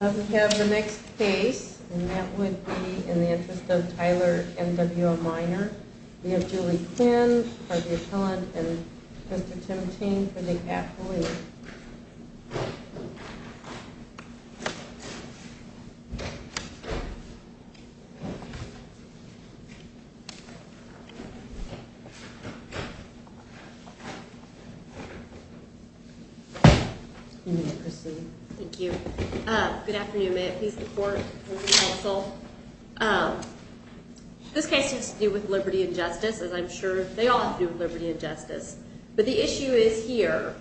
We have the next case, and that would be in the interest of Tyler N. W. O. Minor. We have Julie Quinn for the appellant and Mr. Tim Ting for the athlete. Thank you. Good afternoon. May it please the Court and the Counsel. This case seems to deal with liberty and justice, as I'm sure they all have to do with liberty and justice. But the issue is here,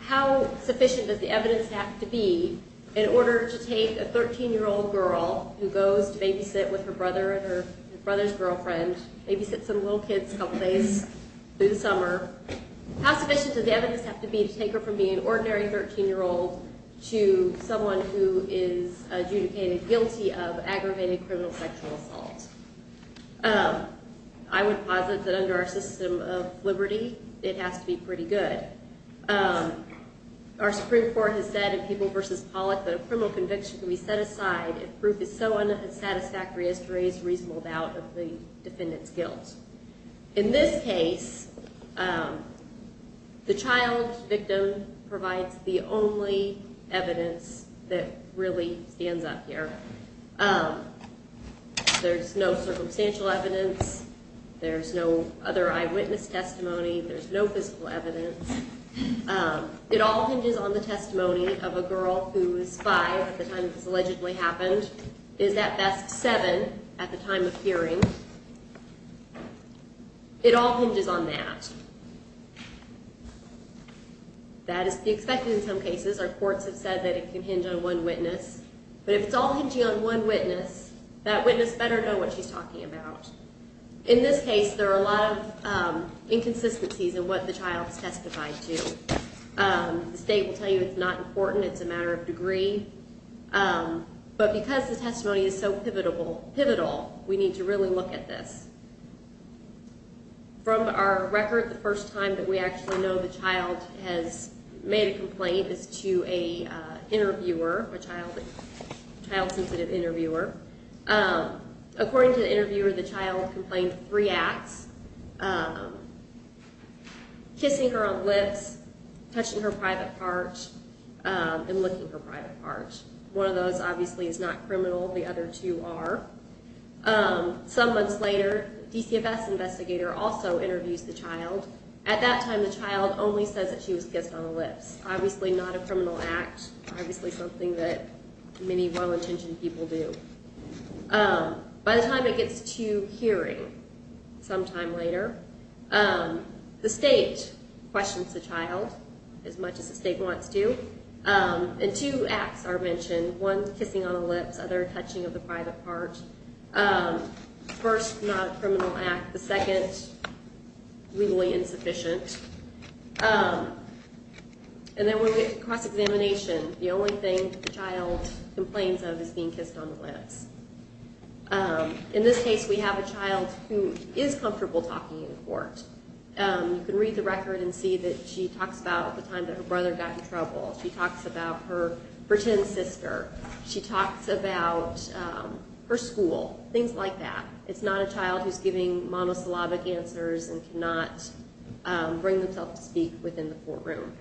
how sufficient does the evidence have to be in order to take a 13-year-old girl who goes to babysit with her brother and her brother's girlfriend, babysits some little kids a couple days through the summer, how sufficient does the evidence have to be to take her from being an ordinary 13-year-old to someone who is adjudicated guilty of aggravated criminal sexual assault? I would posit that under our system of liberty, it has to be pretty good. Our Supreme Court has said in Peeble v. Pollock that a criminal conviction can be set aside if proof is so unsatisfactory as to raise reasonable doubt of the defendant's guilt. In this case, the child victim provides the only evidence that really stands out here. There's no circumstantial evidence. There's no other eyewitness testimony. There's no physical evidence. It all hinges on the testimony of a girl who is 5 at the time this allegedly happened, is at best 7 at the time of hearing. It all hinges on that. That is to be expected in some cases. Our courts have said that it can hinge on one witness. But if it's all hinging on one witness, that witness better know what she's talking about. In this case, there are a lot of inconsistencies in what the child has testified to. The state will tell you it's not important. It's a matter of degree. But because the testimony is so pivotal, we need to really look at this. From our record, the first time that we actually know the child has made a complaint is to an interviewer, a child-sensitive interviewer. According to the interviewer, the child complained of three acts, kissing her on the lips, touching her private part, and licking her private part. One of those, obviously, is not criminal. The other two are. Some months later, the DCFS investigator also interviews the child. At that time, the child only says that she was kissed on the lips. Obviously not a criminal act, obviously something that many well-intentioned people do. By the time it gets to hearing sometime later, the state questions the child as much as the state wants to. And two acts are mentioned, one kissing on the lips, other touching of the private part. First, not a criminal act. The second, legally insufficient. And then when we get to cross-examination, the only thing the child complains of is being kissed on the lips. In this case, we have a child who is comfortable talking in court. You can read the record and see that she talks about the time that her brother got in trouble. She talks about her pretend sister. She talks about her school, things like that. It's not a child who's giving monosyllabic answers and cannot bring themselves to speak within the courtroom.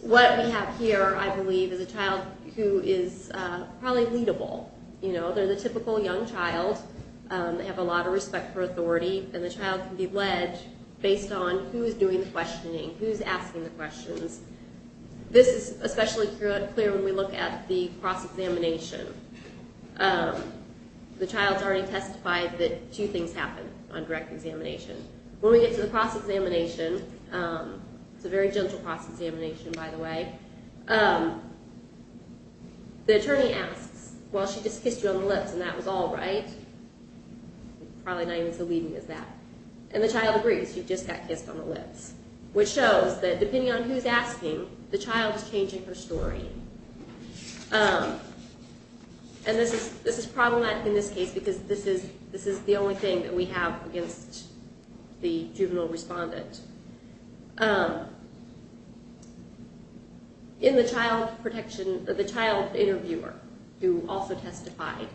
What we have here, I believe, is a child who is probably leadable. They're the typical young child. They have a lot of respect for authority. And the child can be led based on who's doing the questioning, who's asking the questions. This is especially clear when we look at the cross-examination. The child's already testified that two things happened on direct examination. When we get to the cross-examination, it's a very gentle cross-examination, by the way, the attorney asks, well, she just kissed you on the lips and that was all, right? Probably not even so leaving as that. And the child agrees, you just got kissed on the lips, which shows that depending on who's asking, the child is changing her story. And this is problematic in this case because this is the only thing that we have against the juvenile respondent. In the child protection, the child interviewer who also testified,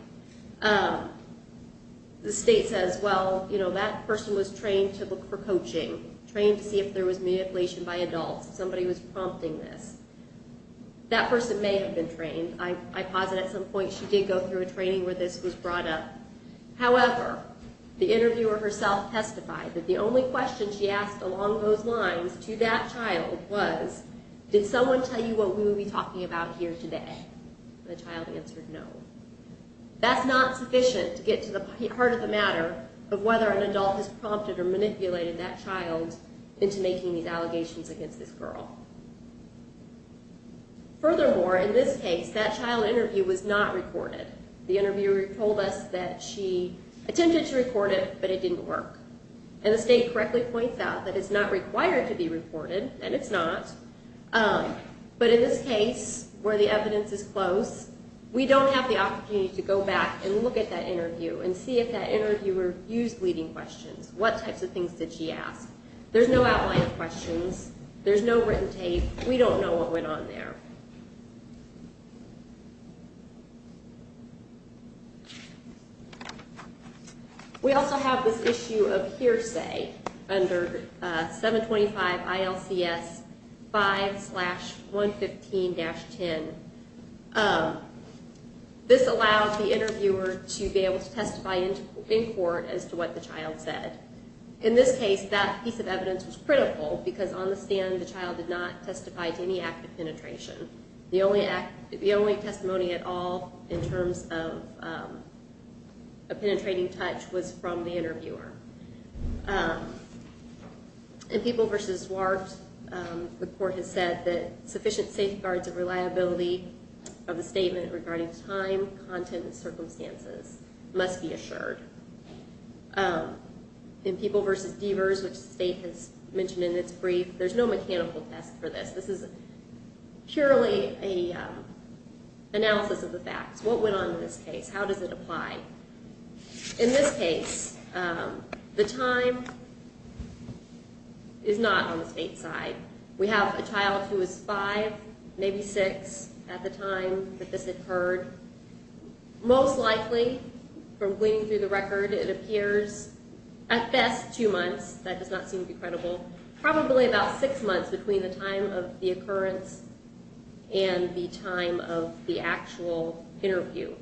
the state says, well, you know, that person was trained to look for coaching, trained to see if there was manipulation by adults, if somebody was prompting this. That person may have been trained. I posit at some point she did go through a training where this was brought up. However, the interviewer herself testified that the only question she asked along those lines to that child was, did someone tell you what we would be talking about here today? The child answered no. That's not sufficient to get to the heart of the matter of whether an adult has prompted or manipulated that child into making these allegations against this girl. Furthermore, in this case, that child interview was not recorded. The interviewer told us that she attempted to record it, but it didn't work. And the state correctly points out that it's not required to be recorded, and it's not. But in this case, where the evidence is close, we don't have the opportunity to go back and look at that interview and see if that interviewer used leading questions. What types of things did she ask? There's no outline of questions. There's no written tape. We don't know what went on there. We also have this issue of hearsay under 725 ILCS 5-115-10. This allows the interviewer to be able to testify in court as to what the child said. In this case, that piece of evidence was critical because on the stand, the child did not testify to any act of penetration. The only testimony at all in terms of a penetrating touch was from the interviewer. In People v. Zwart, the court has said that sufficient safeguards of reliability of a statement regarding time, content, and circumstances must be assured. In People v. Deavers, which the state has mentioned in its brief, there's no mechanical test for this. This is purely an analysis of the facts. What went on in this case? How does it apply? In this case, the time is not on the state's side. We have a child who is five, maybe six at the time that this occurred. Most likely, from gleaning through the record, it appears at best two months. That does not seem to be credible. Probably about six months between the time of the occurrence and the time of the actual interview.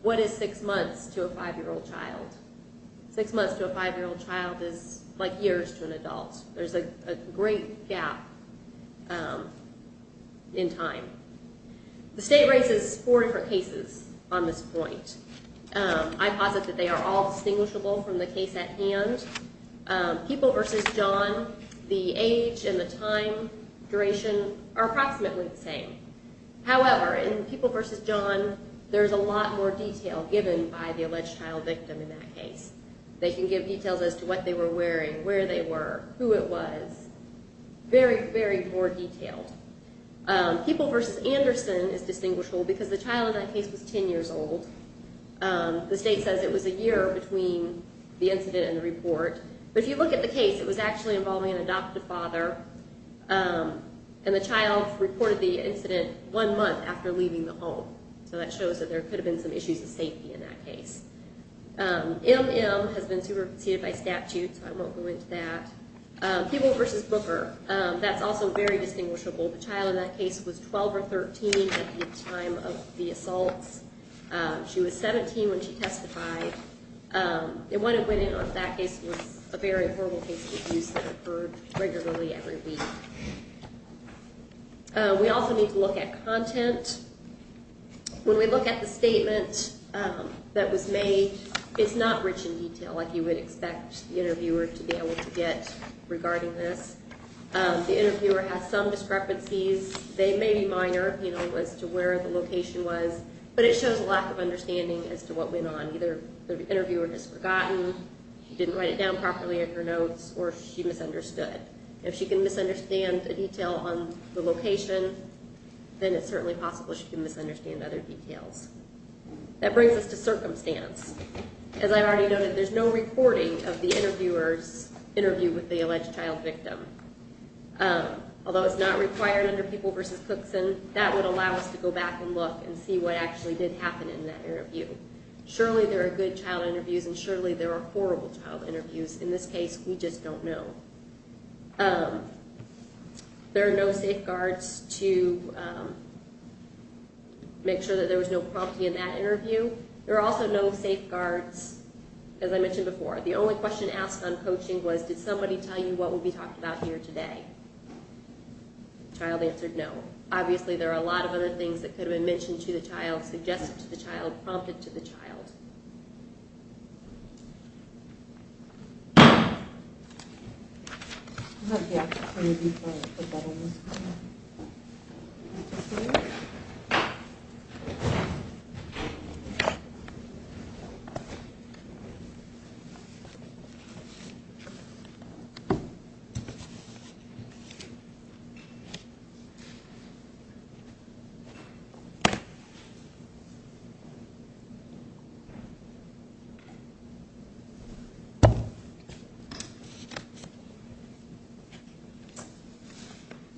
What is six months to a five-year-old child? Six months to a five-year-old child is like years to an adult. There's a great gap in time. The state raises four different cases on this point. I posit that they are all distinguishable from the case at hand. People v. John, the age and the time duration are approximately the same. However, in People v. John, there's a lot more detail given by the alleged child victim in that case. They can give details as to what they were wearing, where they were, who it was. Very, very poor detail. People v. Anderson is distinguishable because the child in that case was 10 years old. The state says it was a year between the incident and the report. But if you look at the case, it was actually involving an adoptive father, and the child reported the incident one month after leaving the home. So that shows that there could have been some issues of safety in that case. MM has been superseded by statute, so I won't go into that. People v. Booker, that's also very distinguishable. The child in that case was 12 or 13 at the time of the assaults. She was 17 when she testified. And what went in on that case was a very horrible case of abuse that occurred regularly every week. We also need to look at content. When we look at the statement that was made, it's not rich in detail, like you would expect the interviewer to be able to get regarding this. The interviewer has some discrepancies. They may be minor, you know, as to where the location was. But it shows a lack of understanding as to what went on. Either the interviewer just forgotten, she didn't write it down properly in her notes, or she misunderstood. If she can misunderstand a detail on the location, then it's certainly possible she can misunderstand other details. That brings us to circumstance. As I already noted, there's no recording of the interviewer's interview with the alleged child victim. Although it's not required under People v. Cookson, that would allow us to go back and look and see what actually did happen in that interview. Surely there are good child interviews, and surely there are horrible child interviews. In this case, we just don't know. There are no safeguards to make sure that there was no prompting in that interview. There are also no safeguards, as I mentioned before. The only question asked on coaching was, did somebody tell you what will be talked about here today? The child answered no. Obviously there are a lot of other things that could have been mentioned to the child, suggested to the child, prompted to the child.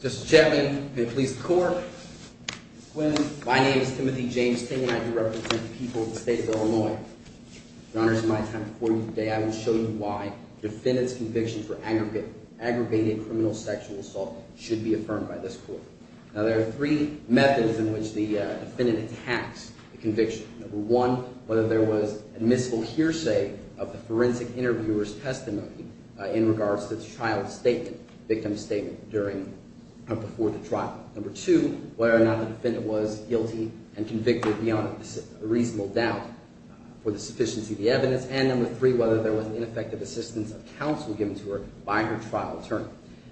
Mr. Chairman and police corps, my name is Timothy James Ting, and I represent the people of the state of Illinois. In honor of my time before you today, I will show you why defendants' convictions for aggravated criminal sexual assault should be affirmed by this court. Now, there are three methods in which the defendant attacks the conviction. Number one, whether there was admissible hearsay of the forensic interviewer's testimony in regards to the child's statement, victim's statement, before the trial. Number two, whether or not the defendant was guilty and convicted beyond a reasonable doubt for the sufficiency of the evidence. And number three, whether there was ineffective assistance of counsel given to her by her trial attorney.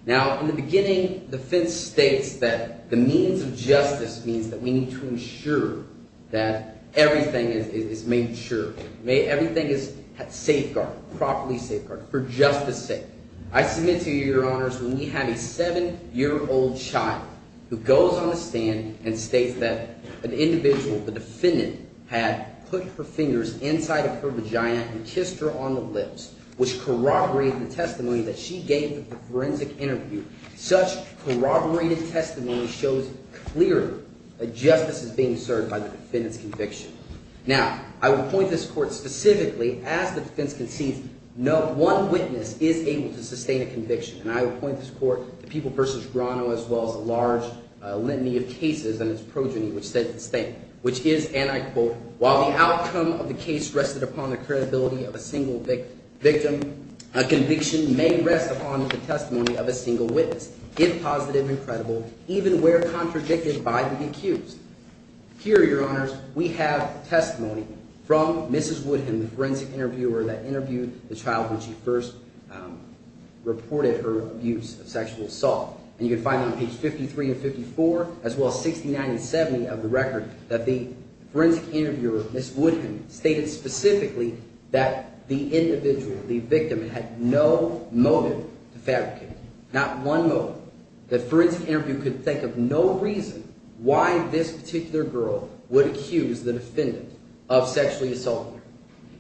Now, in the beginning, the defense states that the means of justice means that we need to ensure that everything is made sure. Everything is safeguarded, properly safeguarded, for justice sake. I submit to you, Your Honors, when we have a seven-year-old child who goes on the stand and states that an individual, the defendant, had put her fingers inside of her vagina and kissed her on the lips, which corroborated the testimony that she gave at the forensic interview, such corroborated testimony shows clearly that justice is being served by the defendant's conviction. Now, I will point this court specifically as the defense concedes no one witness is able to sustain a conviction. And I will point this court to People v. Grano as well as a large litany of cases and its progeny which states the same, which is, and I quote, While the outcome of the case rested upon the credibility of a single victim, a conviction may rest upon the testimony of a single witness, if positive and credible, even where contradicted by the accused. Here, Your Honors, we have testimony from Mrs. Woodham, the forensic interviewer that interviewed the child when she first reported her abuse of sexual assault. And you can find on page 53 and 54 as well as 69 and 70 of the record that the forensic interviewer, Mrs. Woodham, stated specifically that the individual, the victim, had no motive to fabricate, not one motive. The forensic interview could think of no reason why this particular girl would accuse the defendant of sexually assaulting her.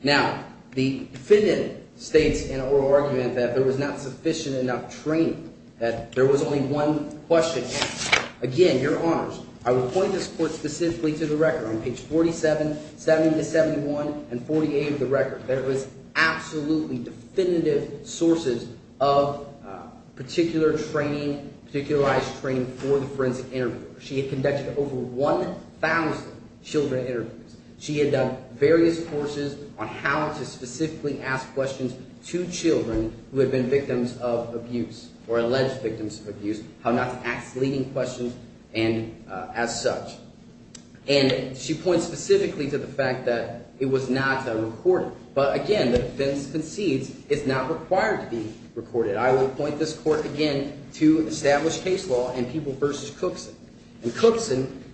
Now, the defendant states in an oral argument that there was not sufficient enough training, that there was only one question. And again, Your Honors, I will point this court specifically to the record. On page 47, 70-71, and 48 of the record, there was absolutely definitive sources of particular training, particularized training for the forensic interviewer. She had conducted over 1,000 children interviews. She had done various courses on how to specifically ask questions to children who had been victims of abuse or alleged victims of abuse, how not to ask leading questions and as such. And she points specifically to the fact that it was not recorded. But again, the defense concedes it's not required to be recorded. I will point this court again to established case law and People v. Cookson. And Cookson,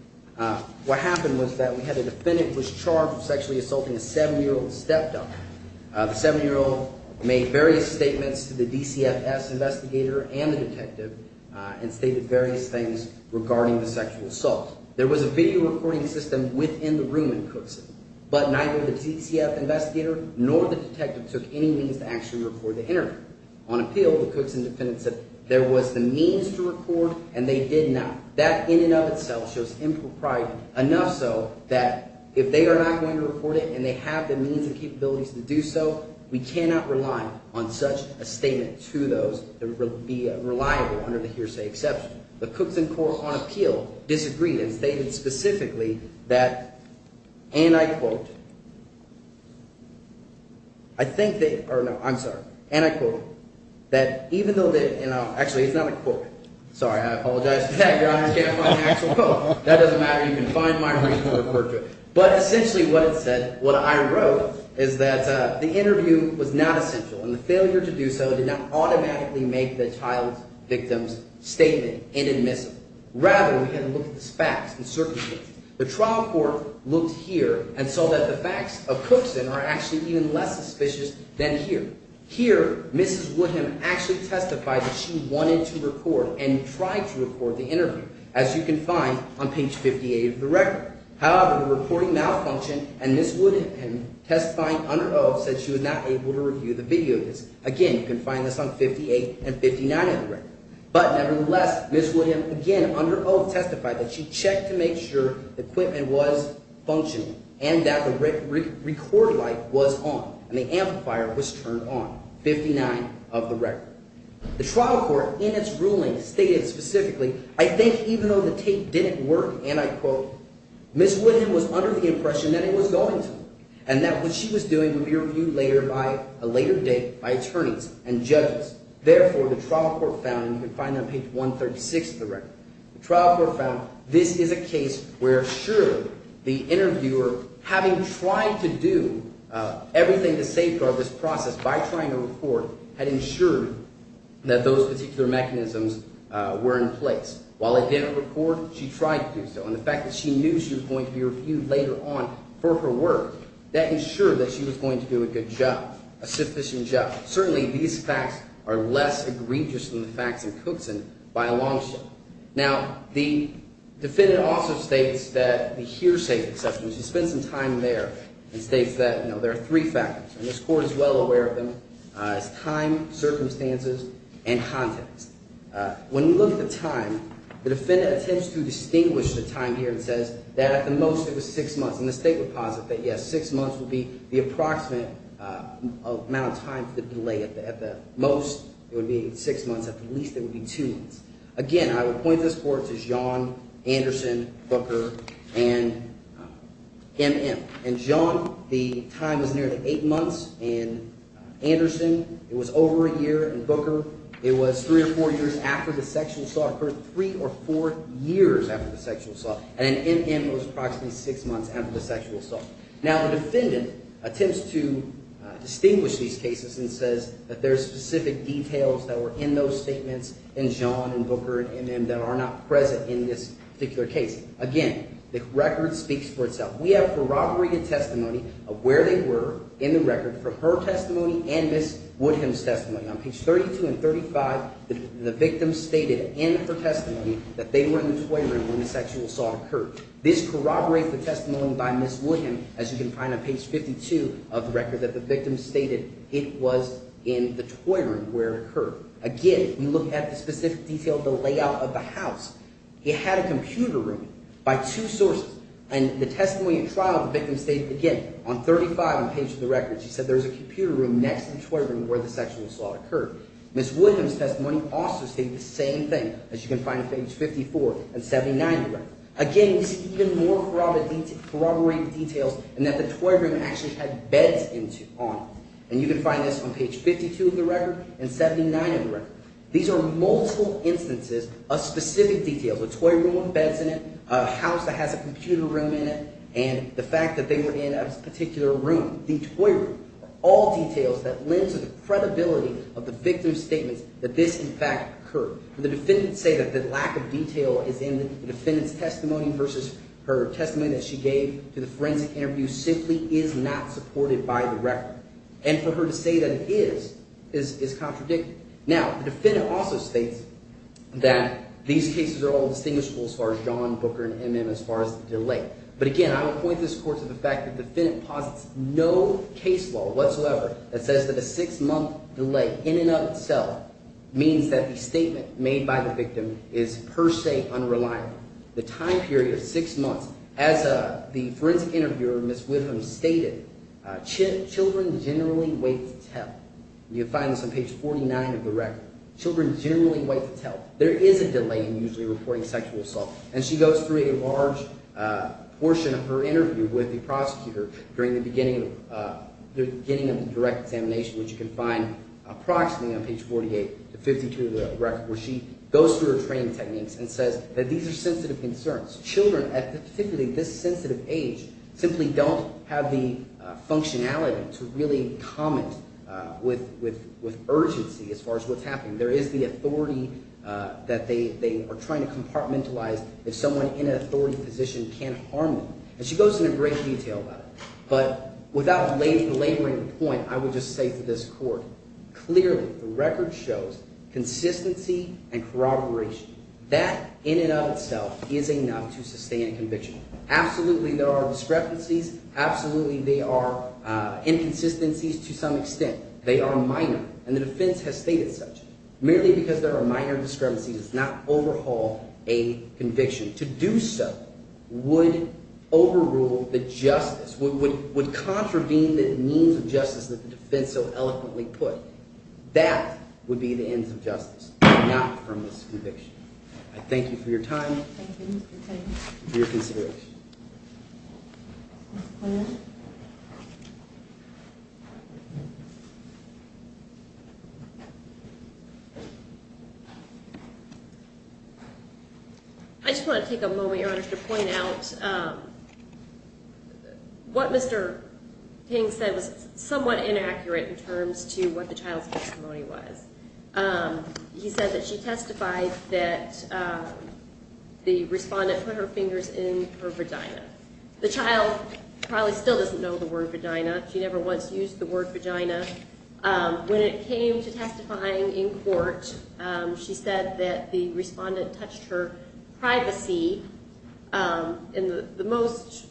what happened was that we had a defendant who was charged with sexually assaulting a 7-year-old stepdaughter. The 7-year-old made various statements to the DCFS investigator and the detective and stated various things regarding the sexual assault. There was a video recording system within the room in Cookson, but neither the DCFS investigator nor the detective took any means to actually record the interview. On appeal, the Cookson defendant said there was the means to record, and they did not. That in and of itself shows impropriety, enough so that if they are not going to record it and they have the means and capabilities to do so…… we cannot rely on such a statement to those that would be reliable under the hearsay exception. The Cookson court on appeal disagreed and stated specifically that, and I quote – I think they – or no, I'm sorry. And I quote that even though they – actually, it's not a quote. Sorry, I apologize for that. I just can't find an actual quote. That doesn't matter. You can find my original report to it. But essentially what it said – what I wrote is that the interview was not essential, and the failure to do so did not automatically make the child's victim's statement inadmissible. Rather, we had to look at the facts and circumstances. The trial court looked here and saw that the facts of Cookson are actually even less suspicious than here. Here, Mrs. Woodham actually testified that she wanted to record and tried to record the interview, as you can find on page 58 of the record. However, the recording malfunctioned, and Mrs. Woodham, testifying under oath, said she was not able to review the video of this. Again, you can find this on page 58 and 59 of the record. But nevertheless, Mrs. Woodham again, under oath, testified that she checked to make sure the equipment was functioning and that the record light was on, and the amplifier was turned on, 59 of the record. The trial court, in its ruling, stated specifically, I think even though the tape didn't work, and I quote, Mrs. Woodham was under the impression that it was going to, and that what she was doing would be reviewed later by – a later date by attorneys and judges. Therefore, the trial court found – and you can find that on page 136 of the record – the trial court found this is a case where, sure, the interviewer, having tried to do everything to safeguard this process by trying to record, had ensured that those particular mechanisms were in place. While it didn't record, she tried to do so, and the fact that she knew she was going to be reviewed later on for her work, that ensured that she was going to do a good job, a sufficient job. Certainly, these facts are less egregious than the facts in Cookson by a long shot. Now, the defendant also states that the hearsay exception, which he spends some time there, and states that there are three factors, and this court is well aware of them. It's time, circumstances, and context. When you look at the time, the defendant attempts to distinguish the time here and says that at the most it was six months, and the state would posit that, yes, six months would be the approximate amount of time for the delay. At the most, it would be six months. At the least, it would be two months. Again, I would point this court to John Anderson Booker and M.M. In John, the time was nearly eight months. In Anderson, it was over a year. In Booker, it was three or four years after the sexual assault. It occurred three or four years after the sexual assault, and in M.M. it was approximately six months after the sexual assault. Now, the defendant attempts to distinguish these cases and says that there are specific details that were in those statements in John and Booker and M.M. that are not present in this particular case. Again, the record speaks for itself. We have corroborated testimony of where they were in the record from her testimony and Ms. Woodham's testimony. On page 32 and 35, the victim stated in her testimony that they were in the toy room when the sexual assault occurred. This corroborates the testimony by Ms. Woodham, as you can find on page 52 of the record, that the victim stated it was in the toy room where it occurred. Again, when you look at the specific detail of the layout of the house, it had a computer room by two sources. And the testimony at trial, the victim stated – again, on 35 on the page of the record, she said there was a computer room next to the toy room where the sexual assault occurred. Ms. Woodham's testimony also states the same thing, as you can find on page 54 and 79 of the record. Again, we see even more corroborated details in that the toy room actually had beds on it, and you can find this on page 52 of the record and 79 of the record. These are multiple instances of specific details, a toy room with beds in it, a house that has a computer room in it, and the fact that they were in a particular room, the toy room. All details that lend to the credibility of the victim's statements that this, in fact, occurred. The defendants say that the lack of detail is in the defendant's testimony versus her testimony that she gave to the forensic interview simply is not supported by the record. And for her to say that it is is contradictory. Now, the defendant also states that these cases are all distinguishable as far as John Booker and M.M. as far as the delay. But again, I would point this court to the fact that the defendant posits no case law whatsoever that says that a six-month delay in and of itself means that the statement made by the victim is per se unreliable. The time period of six months, as the forensic interviewer, Ms. Woodham, stated, children generally wait to tell. You'll find this on page 49 of the record. Children generally wait to tell. There is a delay in usually reporting sexual assault. And she goes through a large portion of her interview with the prosecutor during the beginning of the direct examination, which you can find approximately on page 48 to 52 of the record, where she goes through her training techniques and says that these are sensitive concerns. Children at particularly this sensitive age simply don't have the functionality to really comment with urgency as far as what's happening. There is the authority that they are trying to compartmentalize if someone in an authority position can't harm them. And she goes into great detail about it. But without belaboring the point, I would just say to this court, clearly, the record shows consistency and corroboration. That in and of itself is enough to sustain conviction. Absolutely, there are discrepancies. Absolutely, there are inconsistencies to some extent. They are minor, and the defense has stated such. Merely because there are minor discrepancies does not overhaul a conviction. To do so would overrule the justice, would contravene the means of justice that the defense so eloquently put. That would be the ends of justice, not from this conviction. I thank you for your time and for your consideration. I just want to take a moment, Your Honor, to point out what Mr. King said was somewhat inaccurate in terms to what the child's testimony was. He said that she testified that the respondent put her fingers in her vagina. The child probably still doesn't know the word vagina. She never once used the word vagina. When it came to testifying in court, she said that the respondent touched her privacy. The most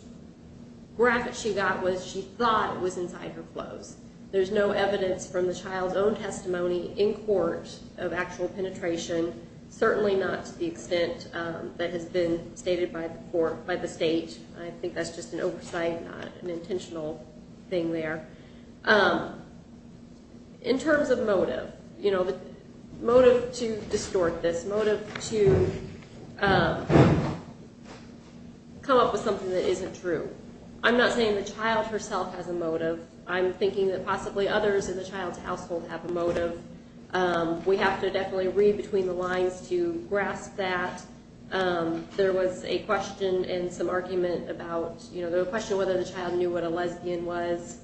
graphic she got was she thought it was inside her clothes. There's no evidence from the child's own testimony in court of actual penetration. Certainly not to the extent that has been stated by the court, by the state. I think that's just an oversight, not an intentional thing there. In terms of motive, motive to distort this, motive to come up with something that isn't true, I'm not saying the child herself has a motive. I'm thinking that possibly others in the child's household have a motive. We have to definitely read between the lines to grasp that. There was a question in some argument about whether the child knew what a lesbian was,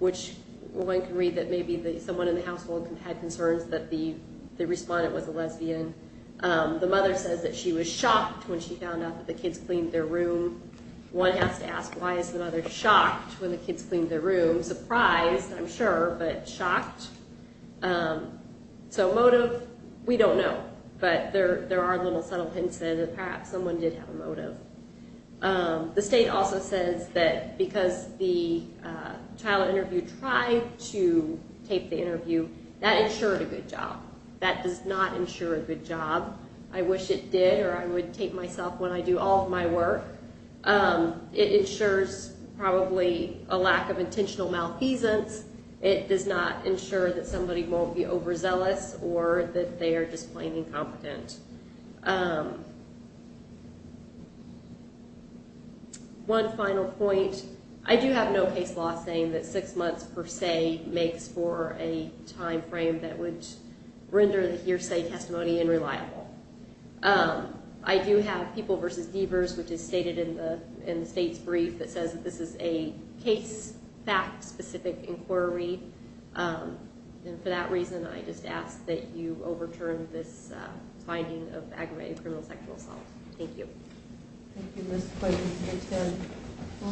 which one can read that maybe someone in the household had concerns that the respondent was a lesbian. The mother says that she was shocked when she found out that the kids cleaned their room. One has to ask, why is the mother shocked when the kids cleaned their room? She was surprised, I'm sure, but shocked. Motive, we don't know, but there are little subtle hints that perhaps someone did have a motive. The state also says that because the child interviewed tried to tape the interview, that ensured a good job. That does not ensure a good job. I wish it did or I would tape myself when I do all of my work. It ensures probably a lack of intentional malpeasance. It does not ensure that somebody won't be overzealous or that they are just plain incompetent. One final point, I do have no case law saying that six months per se makes for a time frame that would render the hearsay testimony unreliable. I do have People v. Deavers, which is stated in the state's brief, that says that this is a case fact specific inquiry. For that reason, I just ask that you overturn this finding of aggravated criminal sexual assault. Thank you.